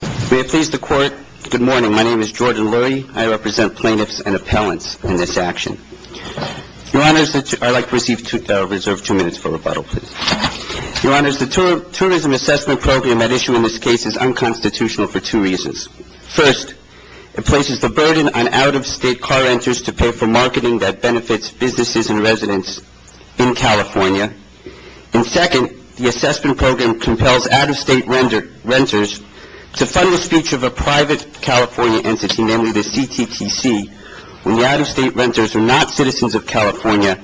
May it please the Court, good morning. My name is Jordan Lurie. I represent plaintiffs and appellants in this action. Your Honors, I'd like to reserve two minutes for rebuttal, please. Your Honors, the Tourism Assessment Program at issue in this case is unconstitutional for two reasons. First, it places the burden on out-of-state car renters to pay for marketing that benefits businesses and residents in California. And second, the assessment program compels out-of-state renters to fund the speech of a private California entity, namely the CTTC, when the out-of-state renters are not citizens of California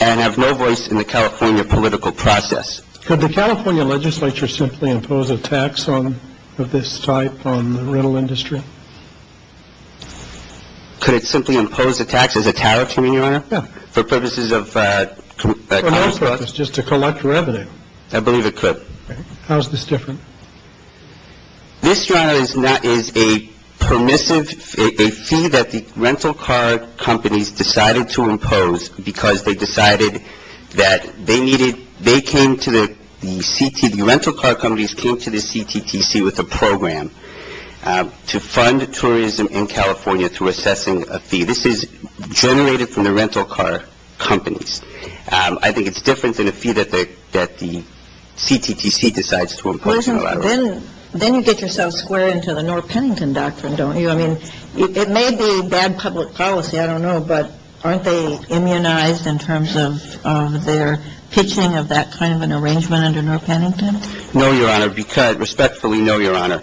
and have no voice in the California political process. Could the California legislature simply impose a tax of this type on the rental industry? Could it simply impose a tax as a tariff, Your Honor? Yeah. For purposes of... For all purposes, just to collect revenue. I believe it could. How is this different? This, Your Honor, is a permissive, a fee that the rental car companies decided to impose because they decided that they needed, they came to the, the CT, the rental car companies came to the CTTC with a program to fund tourism in California through assessing a fee. This is generated from the rental car companies. I think it's different than a fee that the, that the CTTC decides to impose in a lot of ways. Then, then you get yourself square into the Norr-Pennington doctrine, don't you? I mean, it may be bad public policy, I don't know, but aren't they immunized in terms of their pitching of that kind of an arrangement under Norr-Pennington? No, Your Honor, because, respectfully, no, Your Honor.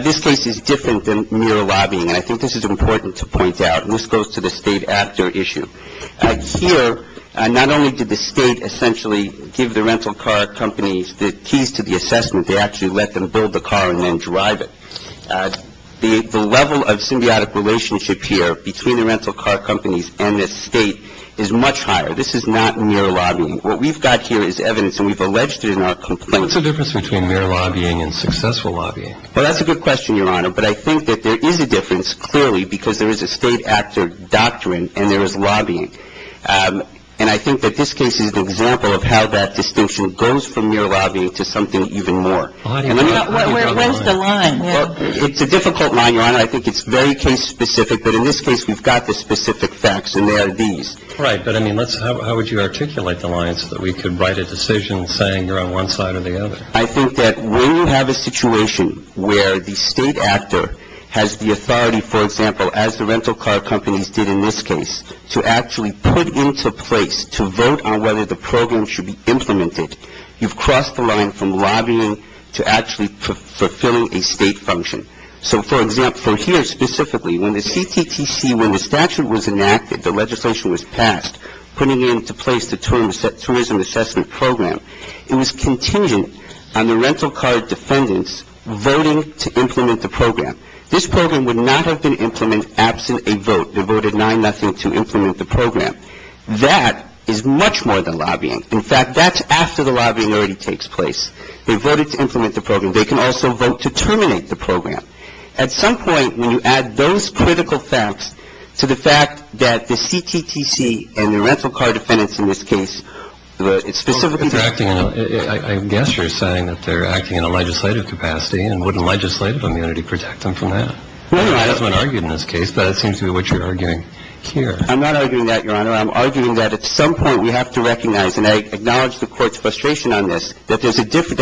This case is different than mere lobbying, and I think this is important to point out, and this goes to the state actor issue. Here, not only did the state essentially give the rental car companies the keys to the assessment, they actually let them build the car and then drive it. The level of symbiotic relationship here between the rental car companies and the state is much higher. This is not mere lobbying. What we've got here is evidence, and we've alleged it in our complaint. So what's the difference between mere lobbying and successful lobbying? Well, that's a good question, Your Honor, but I think that there is a difference, clearly, because there is a state actor doctrine and there is lobbying. And I think that this case is an example of how that distinction goes from mere lobbying to something even more. Where's the line? It's a difficult line, Your Honor. I think it's very case-specific, but in this case we've got the specific facts, and they are these. Right, but, I mean, how would you articulate the line so that we could write a decision saying you're on one side or the other? I think that when you have a situation where the state actor has the authority, for example, as the rental car companies did in this case, to actually put into place, to vote on whether the program should be implemented, you've crossed the line from lobbying to actually fulfilling a state function. So, for example, from here specifically, when the CTTC, when the statute was enacted, the legislation was passed, putting into place the Tourism Assessment Program, it was contingent on the rental car defendants voting to implement the program. This program would not have been implemented absent a vote. They voted 9-0 to implement the program. That is much more than lobbying. In fact, that's after the lobbying already takes place. They voted to implement the program. They can also vote to terminate the program. At some point, when you add those critical facts to the fact that the CTTC and the rental car defendants in this case, it's specifically the... I guess you're saying that they're acting in a legislative capacity and wouldn't legislative immunity protect them from that? Well, Your Honor... I mean, it hasn't been argued in this case, but it seems to be what you're arguing here. I'm not arguing that, Your Honor. I'm arguing that at some point we have to recognize, and I acknowledge the Court's frustration on this, that there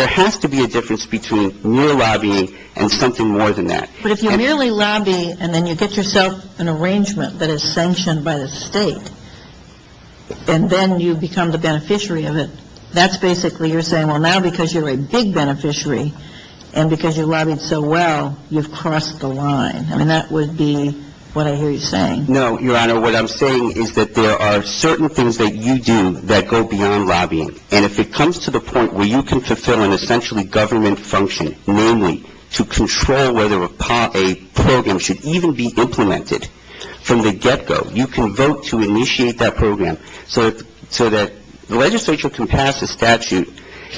has to be a difference between mere lobbying and something more than that. But if you merely lobby and then you get yourself an arrangement that is sanctioned by the state, and then you become the beneficiary of it, that's basically you're saying, well, now because you're a big beneficiary and because you lobbied so well, you've crossed the line. I mean, that would be what I hear you saying. No, Your Honor. What I'm saying is that there are certain things that you do that go beyond lobbying, and if it comes to the point where you can fulfill an essentially government function, namely to control whether a program should even be implemented from the get-go, you can vote to initiate that program so that the legislature can pass a statute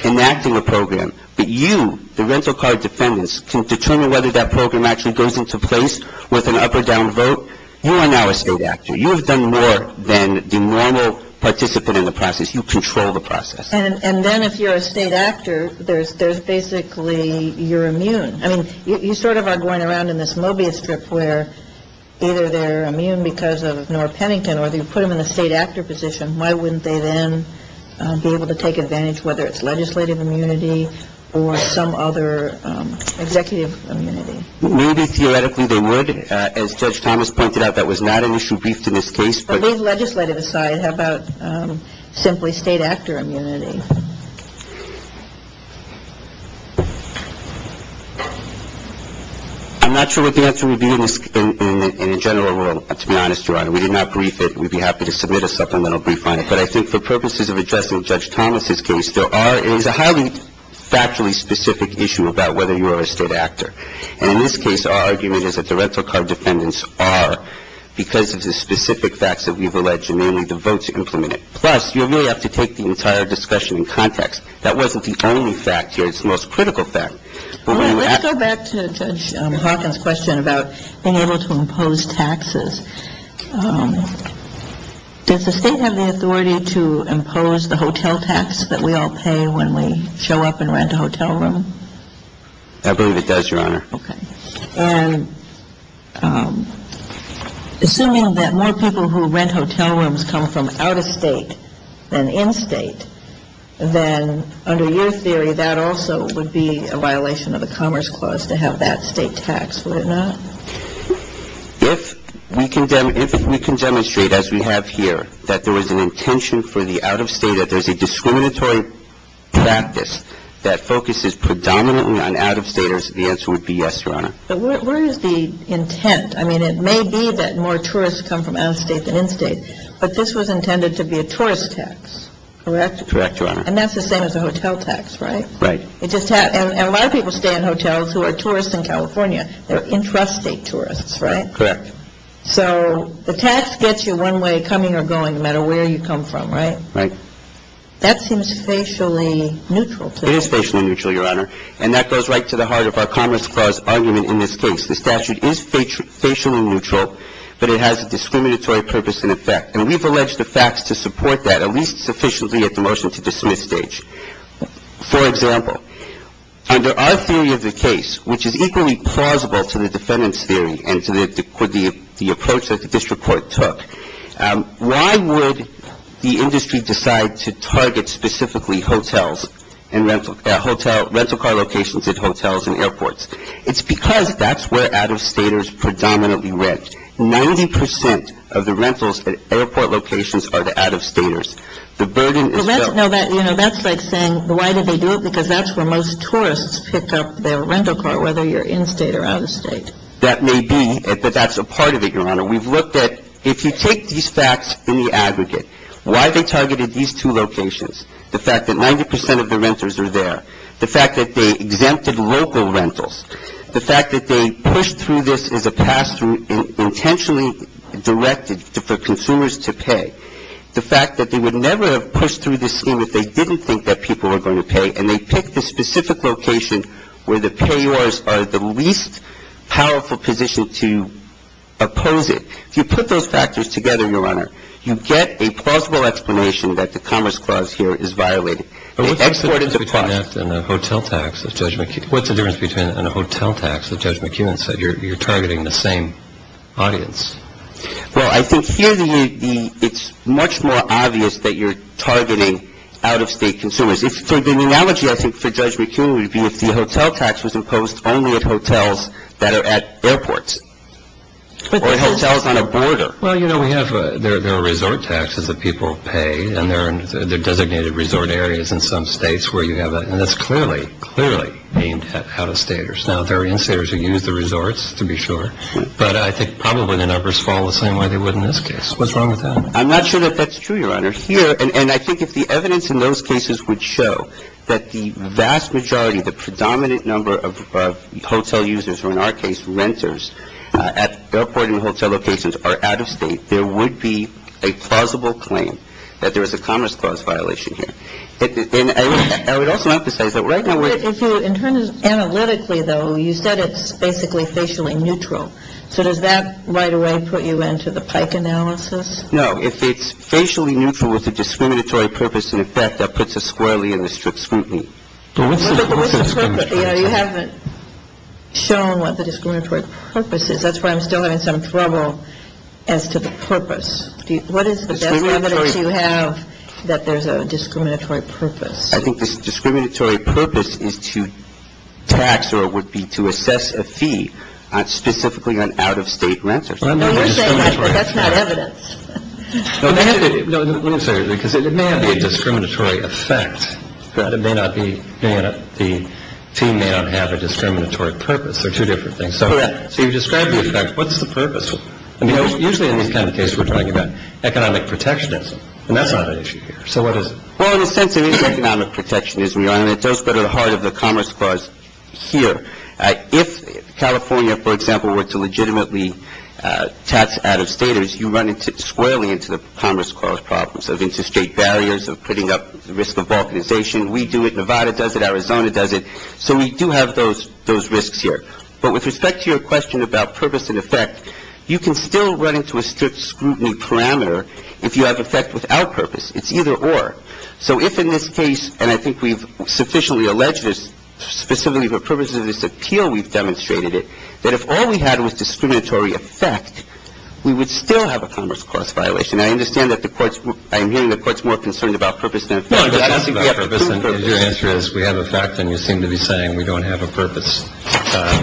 enacting a program, but you, the rental card defendants, can determine whether that program actually goes into place with an up or down vote. You are now a state actor. You have done more than the normal participant in the process. You control the process. And then if you're a state actor, there's basically you're immune. I mean, you sort of are going around in this Mobius strip where either they're immune because of Norah Pennington or you put them in a state actor position. Why wouldn't they then be able to take advantage, whether it's legislative immunity or some other executive immunity? Maybe theoretically they would. As Judge Thomas pointed out, that was not an issue briefed in this case. But legislative aside, how about simply state actor immunity? I'm not sure what the answer would be in a general rule, to be honest, Your Honor. We did not brief it. We'd be happy to submit a supplemental brief on it. But I think for purposes of addressing Judge Thomas's case, there is a highly factually specific issue about whether you are a state actor. And in this case, our argument is that the rental car defendants are because of the specific facts that we've alleged, and mainly the votes implemented. Plus, you really have to take the entire discussion in context. That wasn't the only fact here. It's the most critical fact. Let's go back to Judge Hawkins' question about being able to impose taxes. Does the state have the authority to impose the hotel tax that we all pay when we show up and rent a hotel room? I believe it does, Your Honor. Okay. And assuming that more people who rent hotel rooms come from out-of-state than in-state, then under your theory, that also would be a violation of the Commerce Clause to have that state tax, would it not? If we can demonstrate, as we have here, that there was an intention for the out-of-state, that there's a discriminatory practice that focuses predominantly on out-of-staters, the answer would be yes, Your Honor. But where is the intent? I mean, it may be that more tourists come from out-of-state than in-state, but this was intended to be a tourist tax, correct? Correct, Your Honor. And that's the same as a hotel tax, right? Right. And a lot of people stay in hotels who are tourists in California. They're intrastate tourists, right? Correct. So the tax gets you one way, coming or going, no matter where you come from, right? That seems facially neutral to me. It is facially neutral, Your Honor. And that goes right to the heart of our Commerce Clause argument in this case. The statute is facially neutral, but it has a discriminatory purpose and effect. And we've alleged the facts to support that, at least sufficiently at the motion-to-dismiss stage. For example, under our theory of the case, which is equally plausible to the defendant's theory and to the approach that the district court took, why would the industry decide to target specifically hotels and rental car locations at hotels and airports? It's because that's where out-of-staters predominantly rent. Ninety percent of the rentals at airport locations are to out-of-staters. The burden is felt. That's like saying, why do they do it? Because that's where most tourists pick up their rental car, whether you're in-state or out-of-state. That may be, but that's a part of it, Your Honor. We've looked at, if you take these facts in the aggregate, why they targeted these two locations, the fact that 90 percent of the renters are there, the fact that they exempted local rentals, the fact that they pushed through this as a pass-through intentionally directed for consumers to pay, the fact that they would never have pushed through this scheme if they didn't think that people were going to pay, and they picked the specific location where the payors are the least powerful position to oppose it. If you put those factors together, Your Honor, you get a plausible explanation that the Commerce Clause here is violated. What's the difference between that and a hotel tax that Judge McEwen said you're targeting the same audience? Well, I think here it's much more obvious that you're targeting out-of-state consumers. So the analogy, I think, for Judge McEwen would be if the hotel tax was imposed only at hotels that are at airports or hotels on a border. Well, you know, we have the resort taxes that people pay, and there are designated resort areas in some states where you have that. And that's clearly, clearly aimed at out-of-staters. Now, there are in-staters who use the resorts, to be sure, but I think probably the numbers fall the same way they would in this case. What's wrong with that? I'm not sure that that's true, Your Honor. Here, and I think if the evidence in those cases would show that the vast majority, the predominant number of hotel users, or in our case renters, at airport and hotel locations are out-of-state, there would be a plausible claim that there is a Commerce Clause violation here. And I would also emphasize that right now we're – But if you – in terms of analytically, though, you said it's basically facially neutral. So does that right away put you into the Pike analysis? No. If it's facially neutral with a discriminatory purpose and effect, that puts us squarely in the strict scrutiny. But what's the purpose? You know, you haven't shown what the discriminatory purpose is. That's why I'm still having some trouble as to the purpose. What is the best evidence you have that there's a discriminatory purpose? I think the discriminatory purpose is to tax or would be to assess a fee specifically on out-of-state renters. No, you're saying that's not evidence. Let me say this, because it may not be a discriminatory effect. It may not be – the team may not have a discriminatory purpose. They're two different things. Correct. So you've described the effect. What's the purpose? I mean, usually in these kind of cases we're talking about economic protectionism, and that's not an issue here. So what is it? Well, in a sense, it is economic protectionism, Your Honor, and it does go to the heart of the Commerce Clause here. If California, for example, were to legitimately tax out-of-staters, you run squarely into the Commerce Clause problems of interstate barriers, of putting up the risk of balkanization. We do it. Nevada does it. Arizona does it. So we do have those risks here. But with respect to your question about purpose and effect, you can still run into a strict scrutiny parameter if you have effect without purpose. It's either or. So if in this case, and I think we've sufficiently alleged this, specifically for purposes of this appeal we've demonstrated it, that if all we had was discriminatory effect, we would still have a Commerce Clause violation. And I understand that the courts – I'm hearing the courts more concerned about purpose than effect. No, it's not about purpose. Your answer is we have effect and you seem to be saying we don't have a purpose.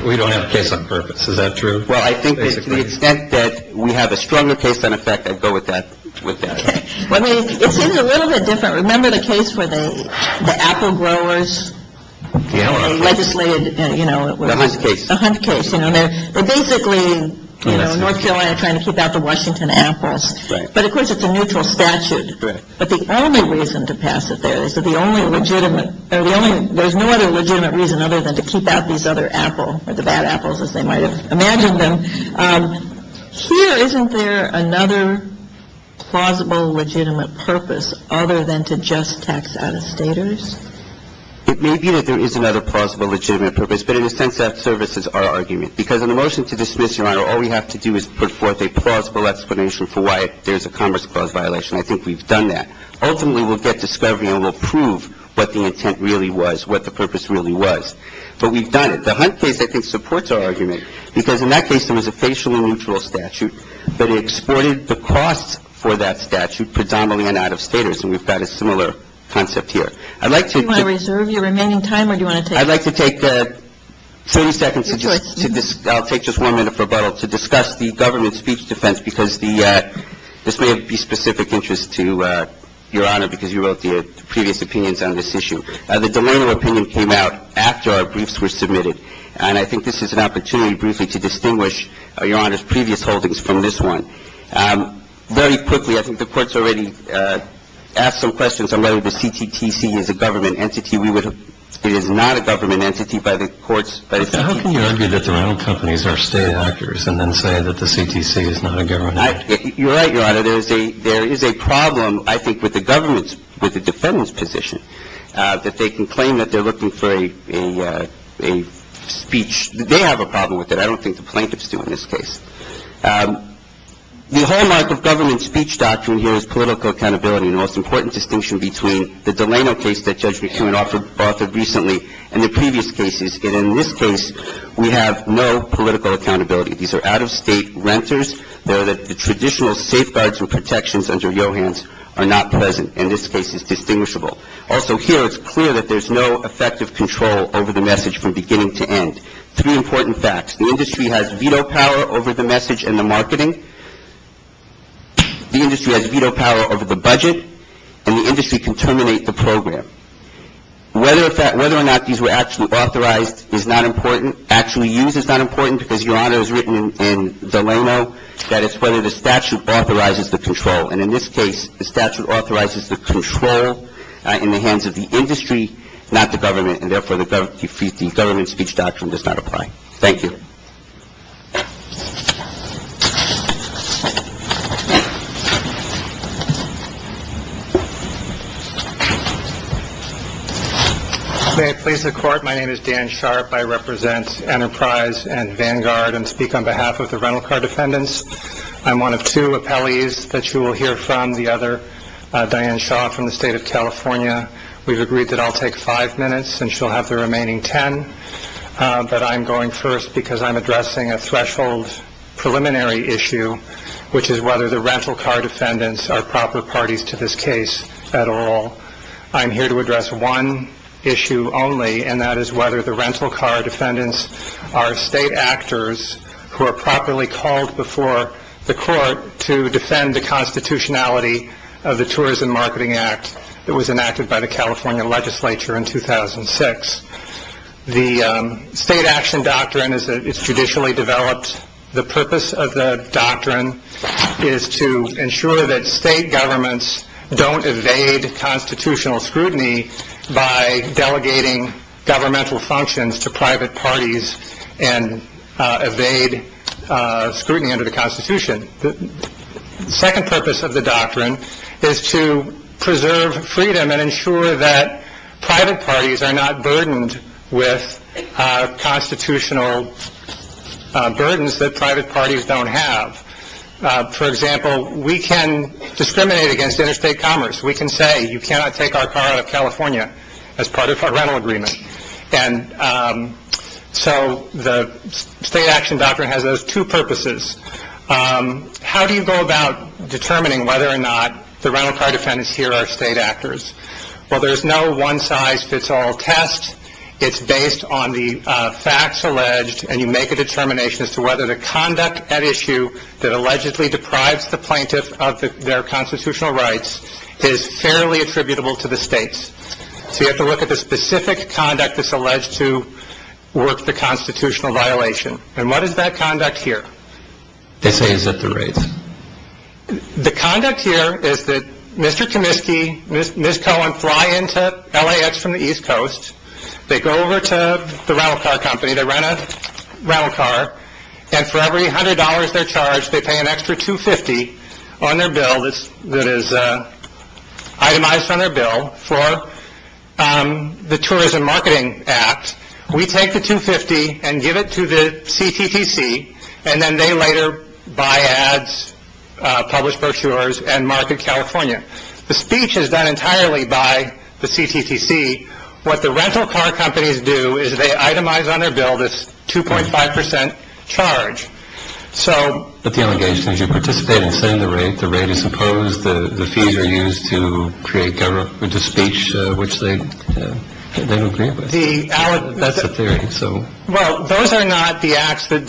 We don't have a case on purpose. Is that true? Well, I think that to the extent that we have a stronger case on effect, I'd go with that. Well, I mean, it seems a little bit different. Remember the case where the apple growers legislated, you know – The Hunt case. The Hunt case. You know, they're basically, you know, in North Carolina trying to keep out the Washington apples. Right. But of course, it's a neutral statute. Right. But the only reason to pass it there is that the only legitimate – there's no other legitimate reason other than to keep out these other apple – or the bad apples, as they might have imagined them. Here, isn't there another plausible legitimate purpose other than to just tax out-of-staters? It may be that there is another plausible legitimate purpose, but in a sense that services our argument. Because in the motion to dismiss, Your Honor, all we have to do is put forth a plausible explanation for why there's a Commerce Clause violation. I think we've done that. Ultimately, we'll get discovery and we'll prove what the intent really was, what the purpose really was. But we've done it. But the Hunt case, I think, supports our argument. Because in that case, there was a facial and neutral statute, but it exported the costs for that statute predominantly on out-of-staters. And we've got a similar concept here. I'd like to – Do you want to reserve your remaining time or do you want to take – I'd like to take 30 seconds to just – Your choice. I'll take just one minute for rebuttal to discuss the government speech defense because this may be of specific interest to Your Honor because you wrote the previous opinions on this issue. The Delano opinion came out after our briefs were submitted. And I think this is an opportunity, briefly, to distinguish Your Honor's previous holdings from this one. Very quickly, I think the Court's already asked some questions on whether the CTTC is a government entity. We would – it is not a government entity by the Court's – How can you argue that the rental companies are state actors and then say that the CTTC is not a government entity? You're right, Your Honor. There is a problem, I think, with the government's – with the defendant's position. That they can claim that they're looking for a speech. They have a problem with it. I don't think the plaintiffs do in this case. The hallmark of government speech doctrine here is political accountability, and the most important distinction between the Delano case that Judge McKeown offered recently and the previous cases, and in this case, we have no political accountability. These are out-of-state renters. The traditional safeguards and protections under Johans are not present. In this case, it's distinguishable. Also here, it's clear that there's no effective control over the message from beginning to end. Three important facts. The industry has veto power over the message and the marketing. The industry has veto power over the budget, and the industry can terminate the program. Whether or not these were actually authorized is not important. Actually used is not important because, Your Honor, it was written in Delano that it's whether the statute authorizes the control, and in this case the statute authorizes the control in the hands of the industry, not the government, and therefore the government speech doctrine does not apply. Thank you. May it please the Court, my name is Dan Sharp. I represent Enterprise and Vanguard and speak on behalf of the rental car defendants. I'm one of two appellees that you will hear from. The other, Diane Shaw, from the State of California. We've agreed that I'll take five minutes and she'll have the remaining ten, but I'm going first because I'm addressing a threshold preliminary issue, which is whether the rental car defendants are proper parties to this case at all. I'm here to address one issue only, and that is whether the rental car defendants are state actors who are properly called before the court to defend the constitutionality of the Tourism Marketing Act that was enacted by the California legislature in 2006. The state action doctrine is that it's judicially developed. The purpose of the doctrine is to ensure that state governments don't evade constitutional scrutiny by delegating governmental functions to private parties and evade scrutiny under the constitution. The second purpose of the doctrine is to preserve freedom and ensure that private parties are not burdened with constitutional burdens that private parties don't have. For example, we can discriminate against interstate commerce. We can say you cannot take our car out of California as part of our rental agreement. And so the state action doctrine has those two purposes. How do you go about determining whether or not the rental car defendants here are state actors? Well, there's no one size fits all test. It's based on the facts alleged, and you make a determination as to whether the conduct at issue that allegedly deprives the plaintiff of their constitutional rights is fairly attributable to the states. So you have to look at the specific conduct that's alleged to work the constitutional violation. And what is that conduct here? They say it's at the rates. The conduct here is that Mr. Kaminsky, Ms. Cohen fly into LAX from the East Coast. They go over to the rental car company. They rent a rental car, and for every $100 they're charged, they pay an extra 250 on their bill that is itemized on their bill for the Tourism Marketing Act. We take the 250 and give it to the CTC, and then they later buy ads, publish brochures, and market California. The speech is done entirely by the CTC. What the rental car companies do is they itemize on their bill this 2.5 percent charge. But the allegation is you participate in setting the rate. The rate is imposed. The fees are used to create government speech, which they don't agree with. That's a theory. Well, those are not the acts that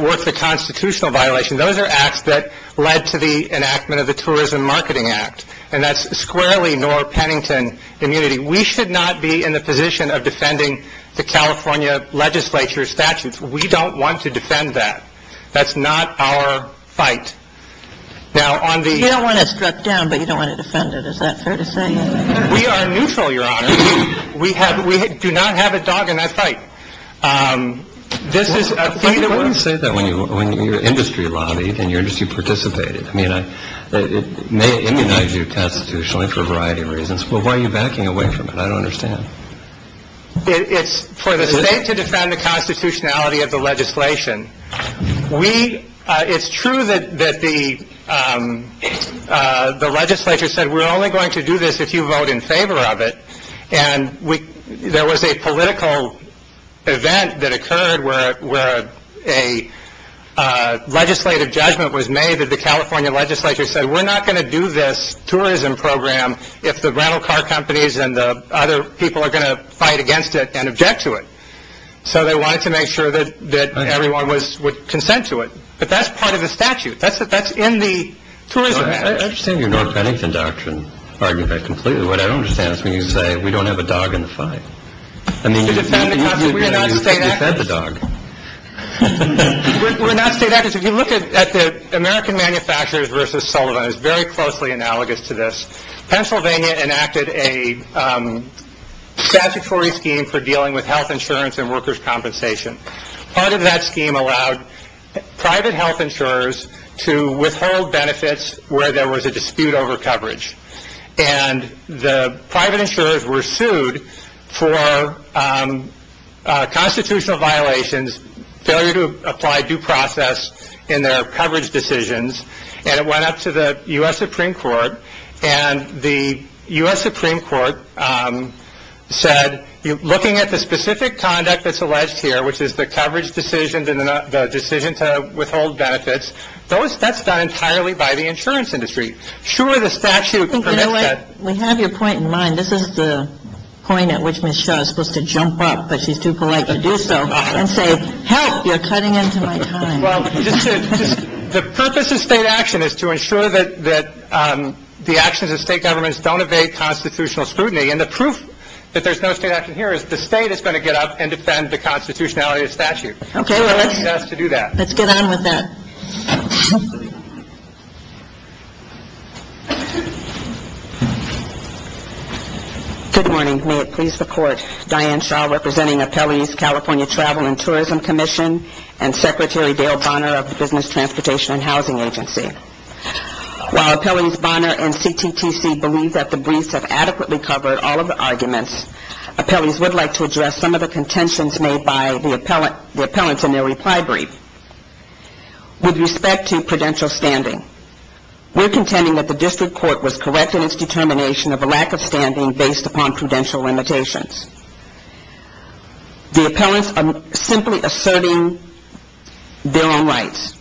work the constitutional violation. Those are acts that led to the enactment of the Tourism Marketing Act, and that's squarely nor Pennington immunity. We should not be in the position of defending the California legislature's statutes. We don't want to defend that. That's not our fight. Now, on the- You don't want to step down, but you don't want to defend it. Is that fair to say? We are neutral, Your Honor. We do not have a dog in that fight. This is a- Why do you say that when your industry lobbied and your industry participated? I mean, it may immunize you constitutionally for a variety of reasons. But why are you backing away from it? I don't understand. It's for the state to defend the constitutionality of the legislation. We- it's true that the legislature said we're only going to do this if you vote in favor of it. And there was a political event that occurred where a legislative judgment was made that the California legislature said we're not going to do this tourism program if the rental car companies and the other people are going to fight against it and object to it. So they wanted to make sure that everyone would consent to it. But that's part of the statute. That's in the tourism act. I understand your North Pennington doctrine argument completely. What I don't understand is when you say we don't have a dog in the fight. I mean- To defend the constitution. We are not state actors. You fed the dog. We're not state actors. If you look at the American Manufacturers versus Sullivan, it's very closely analogous to this. Pennsylvania enacted a statutory scheme for dealing with health insurance and workers' compensation. Part of that scheme allowed private health insurers to withhold benefits where there was a dispute over coverage. And the private insurers were sued for constitutional violations, failure to apply due process in their coverage decisions, and it went up to the U.S. Supreme Court. And the U.S. Supreme Court said looking at the specific conduct that's alleged here, which is the coverage decision and the decision to withhold benefits, that's done entirely by the insurance industry. Sure, the statute- You know what? We have your point in mind. This is the point at which Ms. Shaw is supposed to jump up, but she's too polite to do so, and say, help, you're cutting into my time. Well, the purpose of state action is to ensure that the actions of state governments don't evade constitutional scrutiny. And the proof that there's no state action here is the state is going to get up and defend the constitutionality of statute. Okay. Let's get on with that. Thank you. Good morning. May it please the Court, Diane Shaw representing appellees, California Travel and Tourism Commission, and Secretary Dale Bonner of the Business, Transportation, and Housing Agency. While appellees Bonner and CTTC believe that the briefs have adequately covered all of the arguments, appellees would like to address some of the contentions made by the appellants in their reply brief. With respect to prudential standing, we're contending that the district court was correct in its determination of a lack of standing based upon prudential limitations. The appellants are simply asserting their own rights.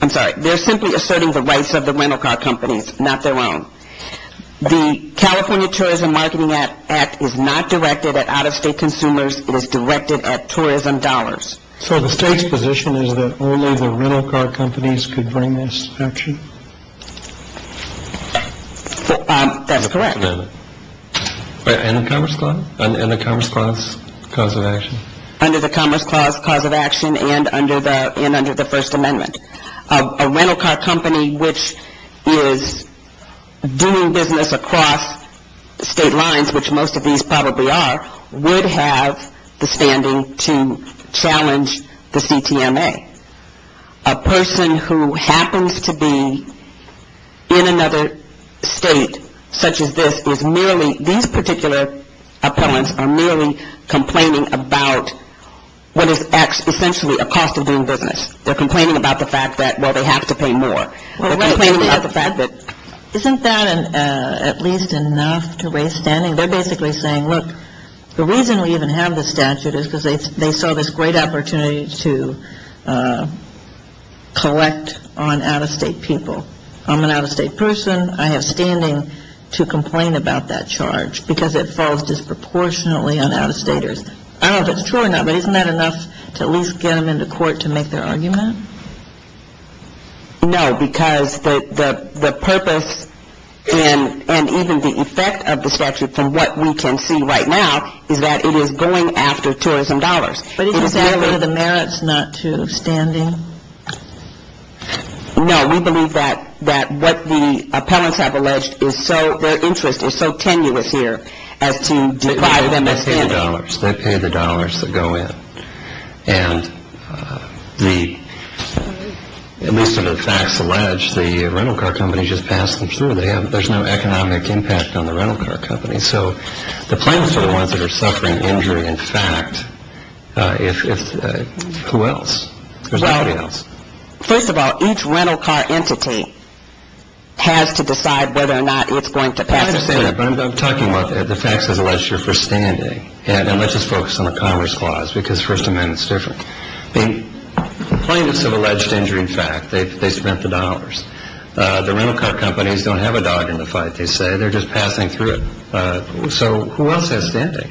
I'm sorry, they're simply asserting the rights of the rental car companies, not their own. The California Tourism Marketing Act is not directed at out-of-state consumers. It is directed at tourism dollars. So the state's position is that only the rental car companies could bring this action? That's correct. And the Commerce Clause? And the Commerce Clause cause of action? Under the Commerce Clause cause of action and under the First Amendment. A rental car company which is doing business across state lines, which most of these probably are, would have the standing to challenge the CTMA. A person who happens to be in another state such as this is merely, these particular appellants are merely complaining about what is essentially a cost of doing business. They're complaining about the fact that, well, they have to pay more. Isn't that at least enough to raise standing? They're basically saying, look, the reason we even have this statute is because they saw this great opportunity to collect on out-of-state people. I'm an out-of-state person. I have standing to complain about that charge because it falls disproportionately on out-of-staters. I don't know if that's true or not, but isn't that enough to at least get them into court to make their argument? No, because the purpose and even the effect of the statute from what we can see right now is that it is going after tourism dollars. But isn't that one of the merits not to standing? No, we believe that what the appellants have alleged is so, their interest is so tenuous here as to divide them as standing. They pay the dollars. They pay the dollars that go in. And at least as the facts allege, the rental car company just passed them through. There's no economic impact on the rental car company. So the plaintiffs are the ones that are suffering injury in fact. Who else? There's nobody else. Well, first of all, each rental car entity has to decide whether or not it's going to pass the statute. Yeah, but I'm talking about the facts as alleged here for standing. And let's just focus on the Commerce Clause because First Amendment's different. The plaintiffs have alleged injury in fact. They spent the dollars. The rental car companies don't have a dog in the fight, they say. They're just passing through it. So who else has standing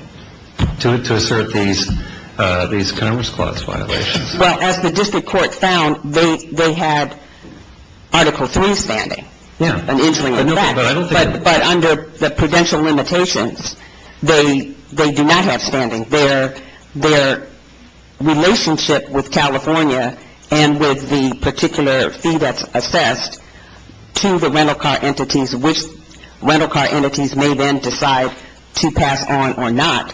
to assert these Commerce Clause violations? Well, as the district court found, they had Article III standing. Yeah. But under the prudential limitations, they do not have standing. Their relationship with California and with the particular fee that's assessed to the rental car entities, which rental car entities may then decide to pass on or not,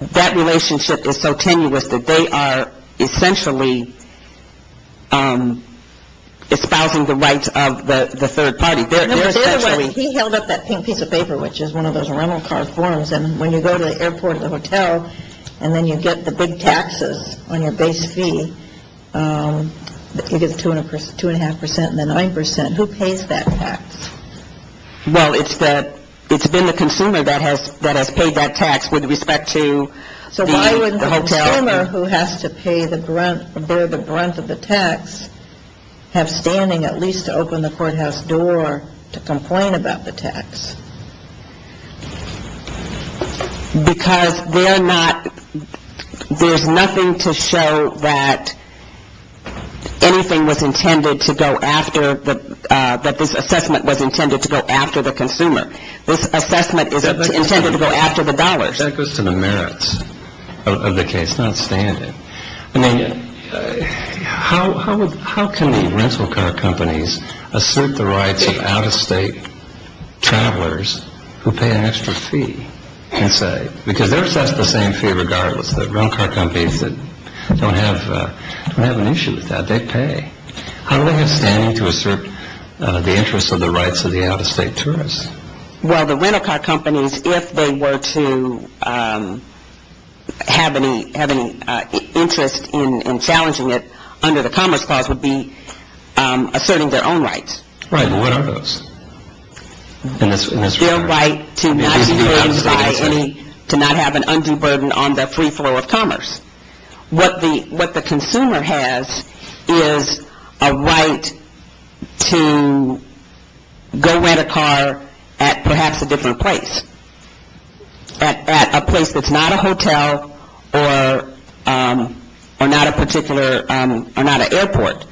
that relationship is so tenuous that they are essentially espousing the rights of the third party. He held up that pink piece of paper, which is one of those rental car forms, and when you go to the airport or the hotel and then you get the big taxes on your base fee, you get the 2.5% and the 9%. Who pays that tax? Well, it's been the consumer that has paid that tax with respect to the hotel. The consumer who has to bear the brunt of the tax have standing at least to open the courthouse door to complain about the tax. Because they're not – there's nothing to show that anything was intended to go after – that this assessment was intended to go after the consumer. This assessment is intended to go after the dollars. That goes to the merits of the case, not standing. I mean, how can the rental car companies assert the rights of out-of-state travelers who pay an extra fee? Because they're assessed the same fee regardless. The rental car companies that don't have an issue with that, they pay. How do they have standing to assert the interests of the rights of the out-of-state tourists? Well, the rental car companies, if they were to have any interest in challenging it under the Commerce Clause, would be asserting their own rights. Right, but what are those? Their right to not be burdened by any – to not have an undue burden on the free flow of commerce. What the consumer has is a right to go rent a car at perhaps a different place. At a place that's not a hotel or not a particular – or not an airport.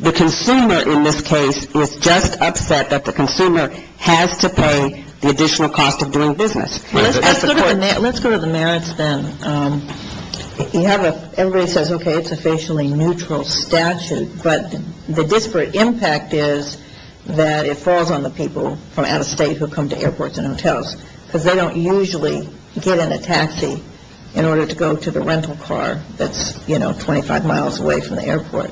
The consumer in this case is just upset that the consumer has to pay the additional cost of doing business. Let's go to the merits then. You have a – everybody says, okay, it's a facially neutral statute, but the disparate impact is that it falls on the people from out-of-state who come to airports and hotels because they don't usually get in a taxi in order to go to the rental car that's, you know, 25 miles away from the airport.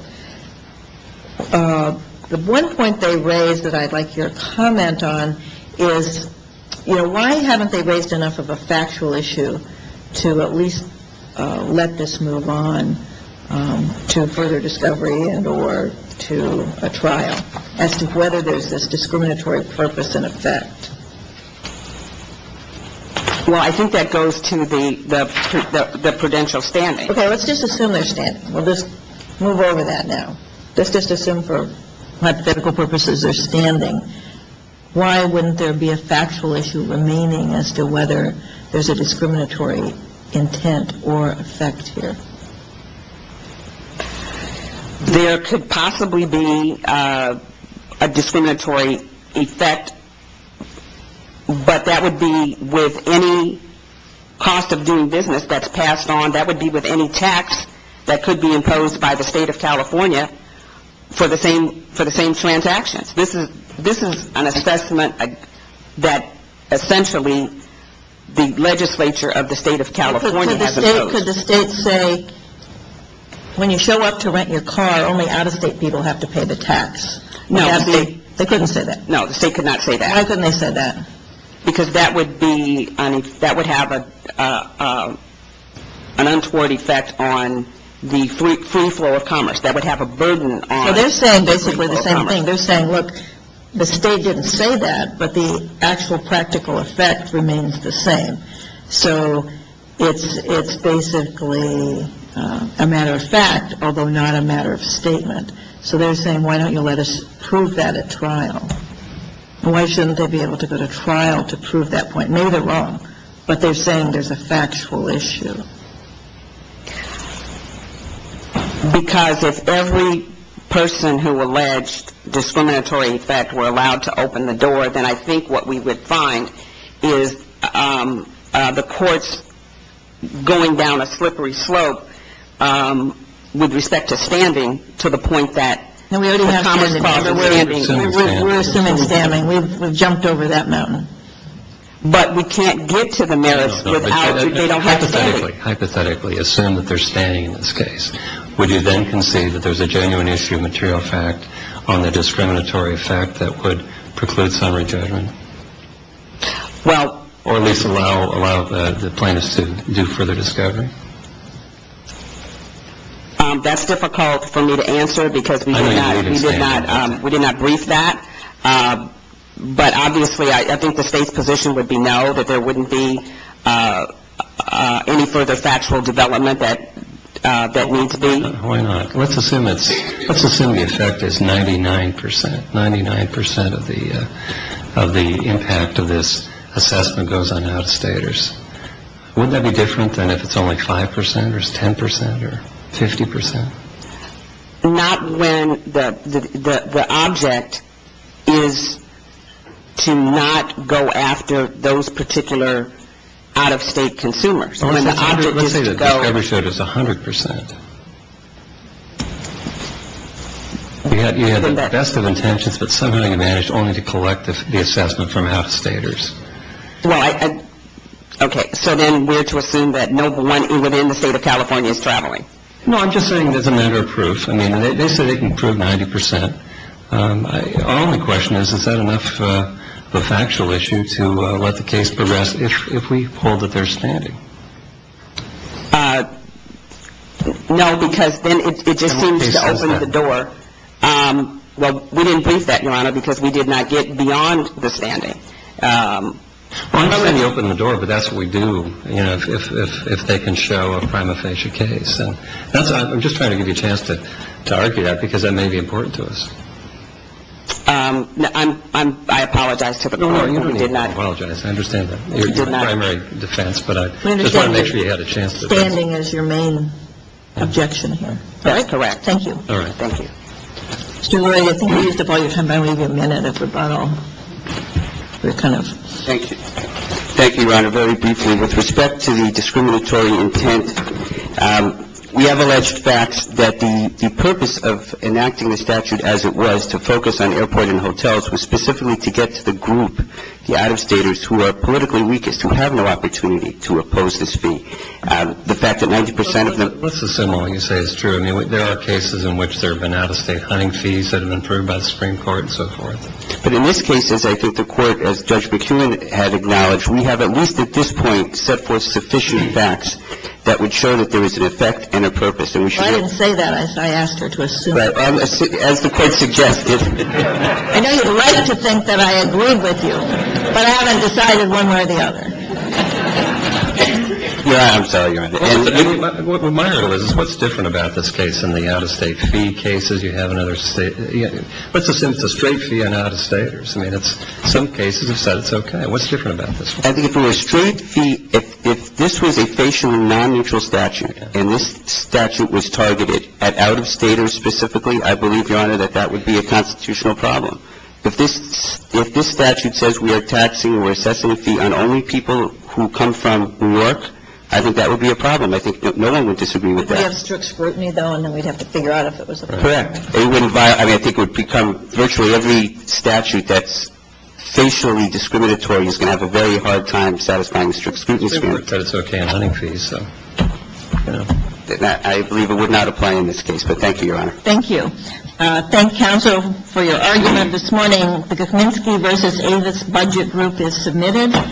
The one point they raise that I'd like your comment on is, you know, why haven't they raised enough of a factual issue to at least let this move on to further discovery and or to a trial as to whether there's this discriminatory purpose and effect? Well, I think that goes to the prudential standing. Okay, let's just assume they're standing. We'll just move over that now. Let's just assume for hypothetical purposes they're standing. Why wouldn't there be a factual issue remaining as to whether there's a discriminatory intent or effect here? There could possibly be a discriminatory effect, but that would be with any cost of doing business that's passed on. That would be with any tax that could be imposed by the State of California for the same transactions. This is an assessment that essentially the legislature of the State of California has imposed. Could the State say, when you show up to rent your car, only out-of-state people have to pay the tax? No. They couldn't say that? No, the State could not say that. Why couldn't they say that? Because that would have an untoward effect on the free flow of commerce. That would have a burden on the free flow of commerce. They're saying basically the same thing. They're saying, look, the State didn't say that, but the actual practical effect remains the same. So it's basically a matter of fact, although not a matter of statement. So they're saying, why don't you let us prove that at trial? Why shouldn't they be able to go to trial to prove that point? Maybe they're wrong, but they're saying there's a factual issue. Because if every person who alleged discriminatory effect were allowed to open the door, then I think what we would find is the courts going down a slippery slope with respect to standing to the point that We're assuming standing. We're assuming standing. We've jumped over that mountain. But we can't get to the merits without they don't have standing. Hypothetically, assume that they're standing in this case. Would you then concede that there's a genuine issue of material fact on the discriminatory effect that would preclude summary judgment? Or at least allow the plaintiffs to do further discovery? That's difficult for me to answer because we did not brief that. But obviously, I think the state's position would be no, that there wouldn't be any further factual development that needs to be. Why not? Let's assume the effect is 99 percent. Ninety-nine percent of the impact of this assessment goes on out-of-staters. Wouldn't that be different than if it's only 5 percent or 10 percent or 50 percent? Not when the object is to not go after those particular out-of-state consumers. When the object is to go. Let's say the discovery showed it's 100 percent. You had the best of intentions, but somehow you managed only to collect the assessment from out-of-staters. Well, okay, so then we're to assume that no one within the state of California is traveling. No, I'm just saying there's a matter of proof. I mean, they say they can prove 90 percent. Our only question is, is that enough of a factual issue to let the case progress if we hold that they're standing? No, because then it just seems to open the door. Well, we didn't brief that, Your Honor, because we did not get beyond the standing. Well, I understand you opened the door, but that's what we do, you know, if they can show a prima facie case. I'm just trying to give you a chance to argue that because that may be important to us. I apologize to the court. No, no, you don't need to apologize. I understand that. It's a primary defense, but I just wanted to make sure you had a chance. Standing is your main objection here. That is correct. Thank you. All right. Thank you. Mr. Murray, I think you used up all your time by maybe a minute of rebuttal. Thank you. Thank you, Your Honor, very briefly. With respect to the discriminatory intent, we have alleged facts that the purpose of enacting the statute as it was, to focus on airport and hotels, was specifically to get to the group, the out-of-staters, who are politically weakest, who have no opportunity to oppose this fee. The fact that 90 percent of them are also similar, you say, is true. I mean, there are cases in which there have been out-of-state hunting fees that have been proved by the Supreme Court and so forth. But in this case, as I think the Court, as Judge McKeown had acknowledged, we have at least at this point set forth sufficient facts that would show that there is an effect and a purpose. And we should know that. Well, I didn't say that. I asked her to assume it. As the Court suggested. I know you'd like to think that I agreed with you, but I haven't decided one way or the other. No, I'm sorry, Your Honor. What's different about this case than the out-of-state fee cases you have in other states? Let's assume it's a straight fee on out-of-staters. I mean, some cases have said it's okay. What's different about this one? I think if it were a straight fee, if this was a facially non-neutral statute, and this statute was targeted at out-of-staters specifically, I believe, Your Honor, that that would be a constitutional problem. If this statute says we are taxing or assessing a fee on only people who come from New York, I think that would be a problem. I think no one would disagree with that. We'd have strict scrutiny, though, and then we'd have to figure out if it was a violation. Correct. I mean, I think it would become virtually every statute that's facially discriminatory is going to have a very hard time satisfying the strict scrutiny standard. I believe it would not apply in this case, but thank you, Your Honor. Thank you. Thank you, counsel, for your argument this morning. The Gutminski v. Avis Budget Group is submitted.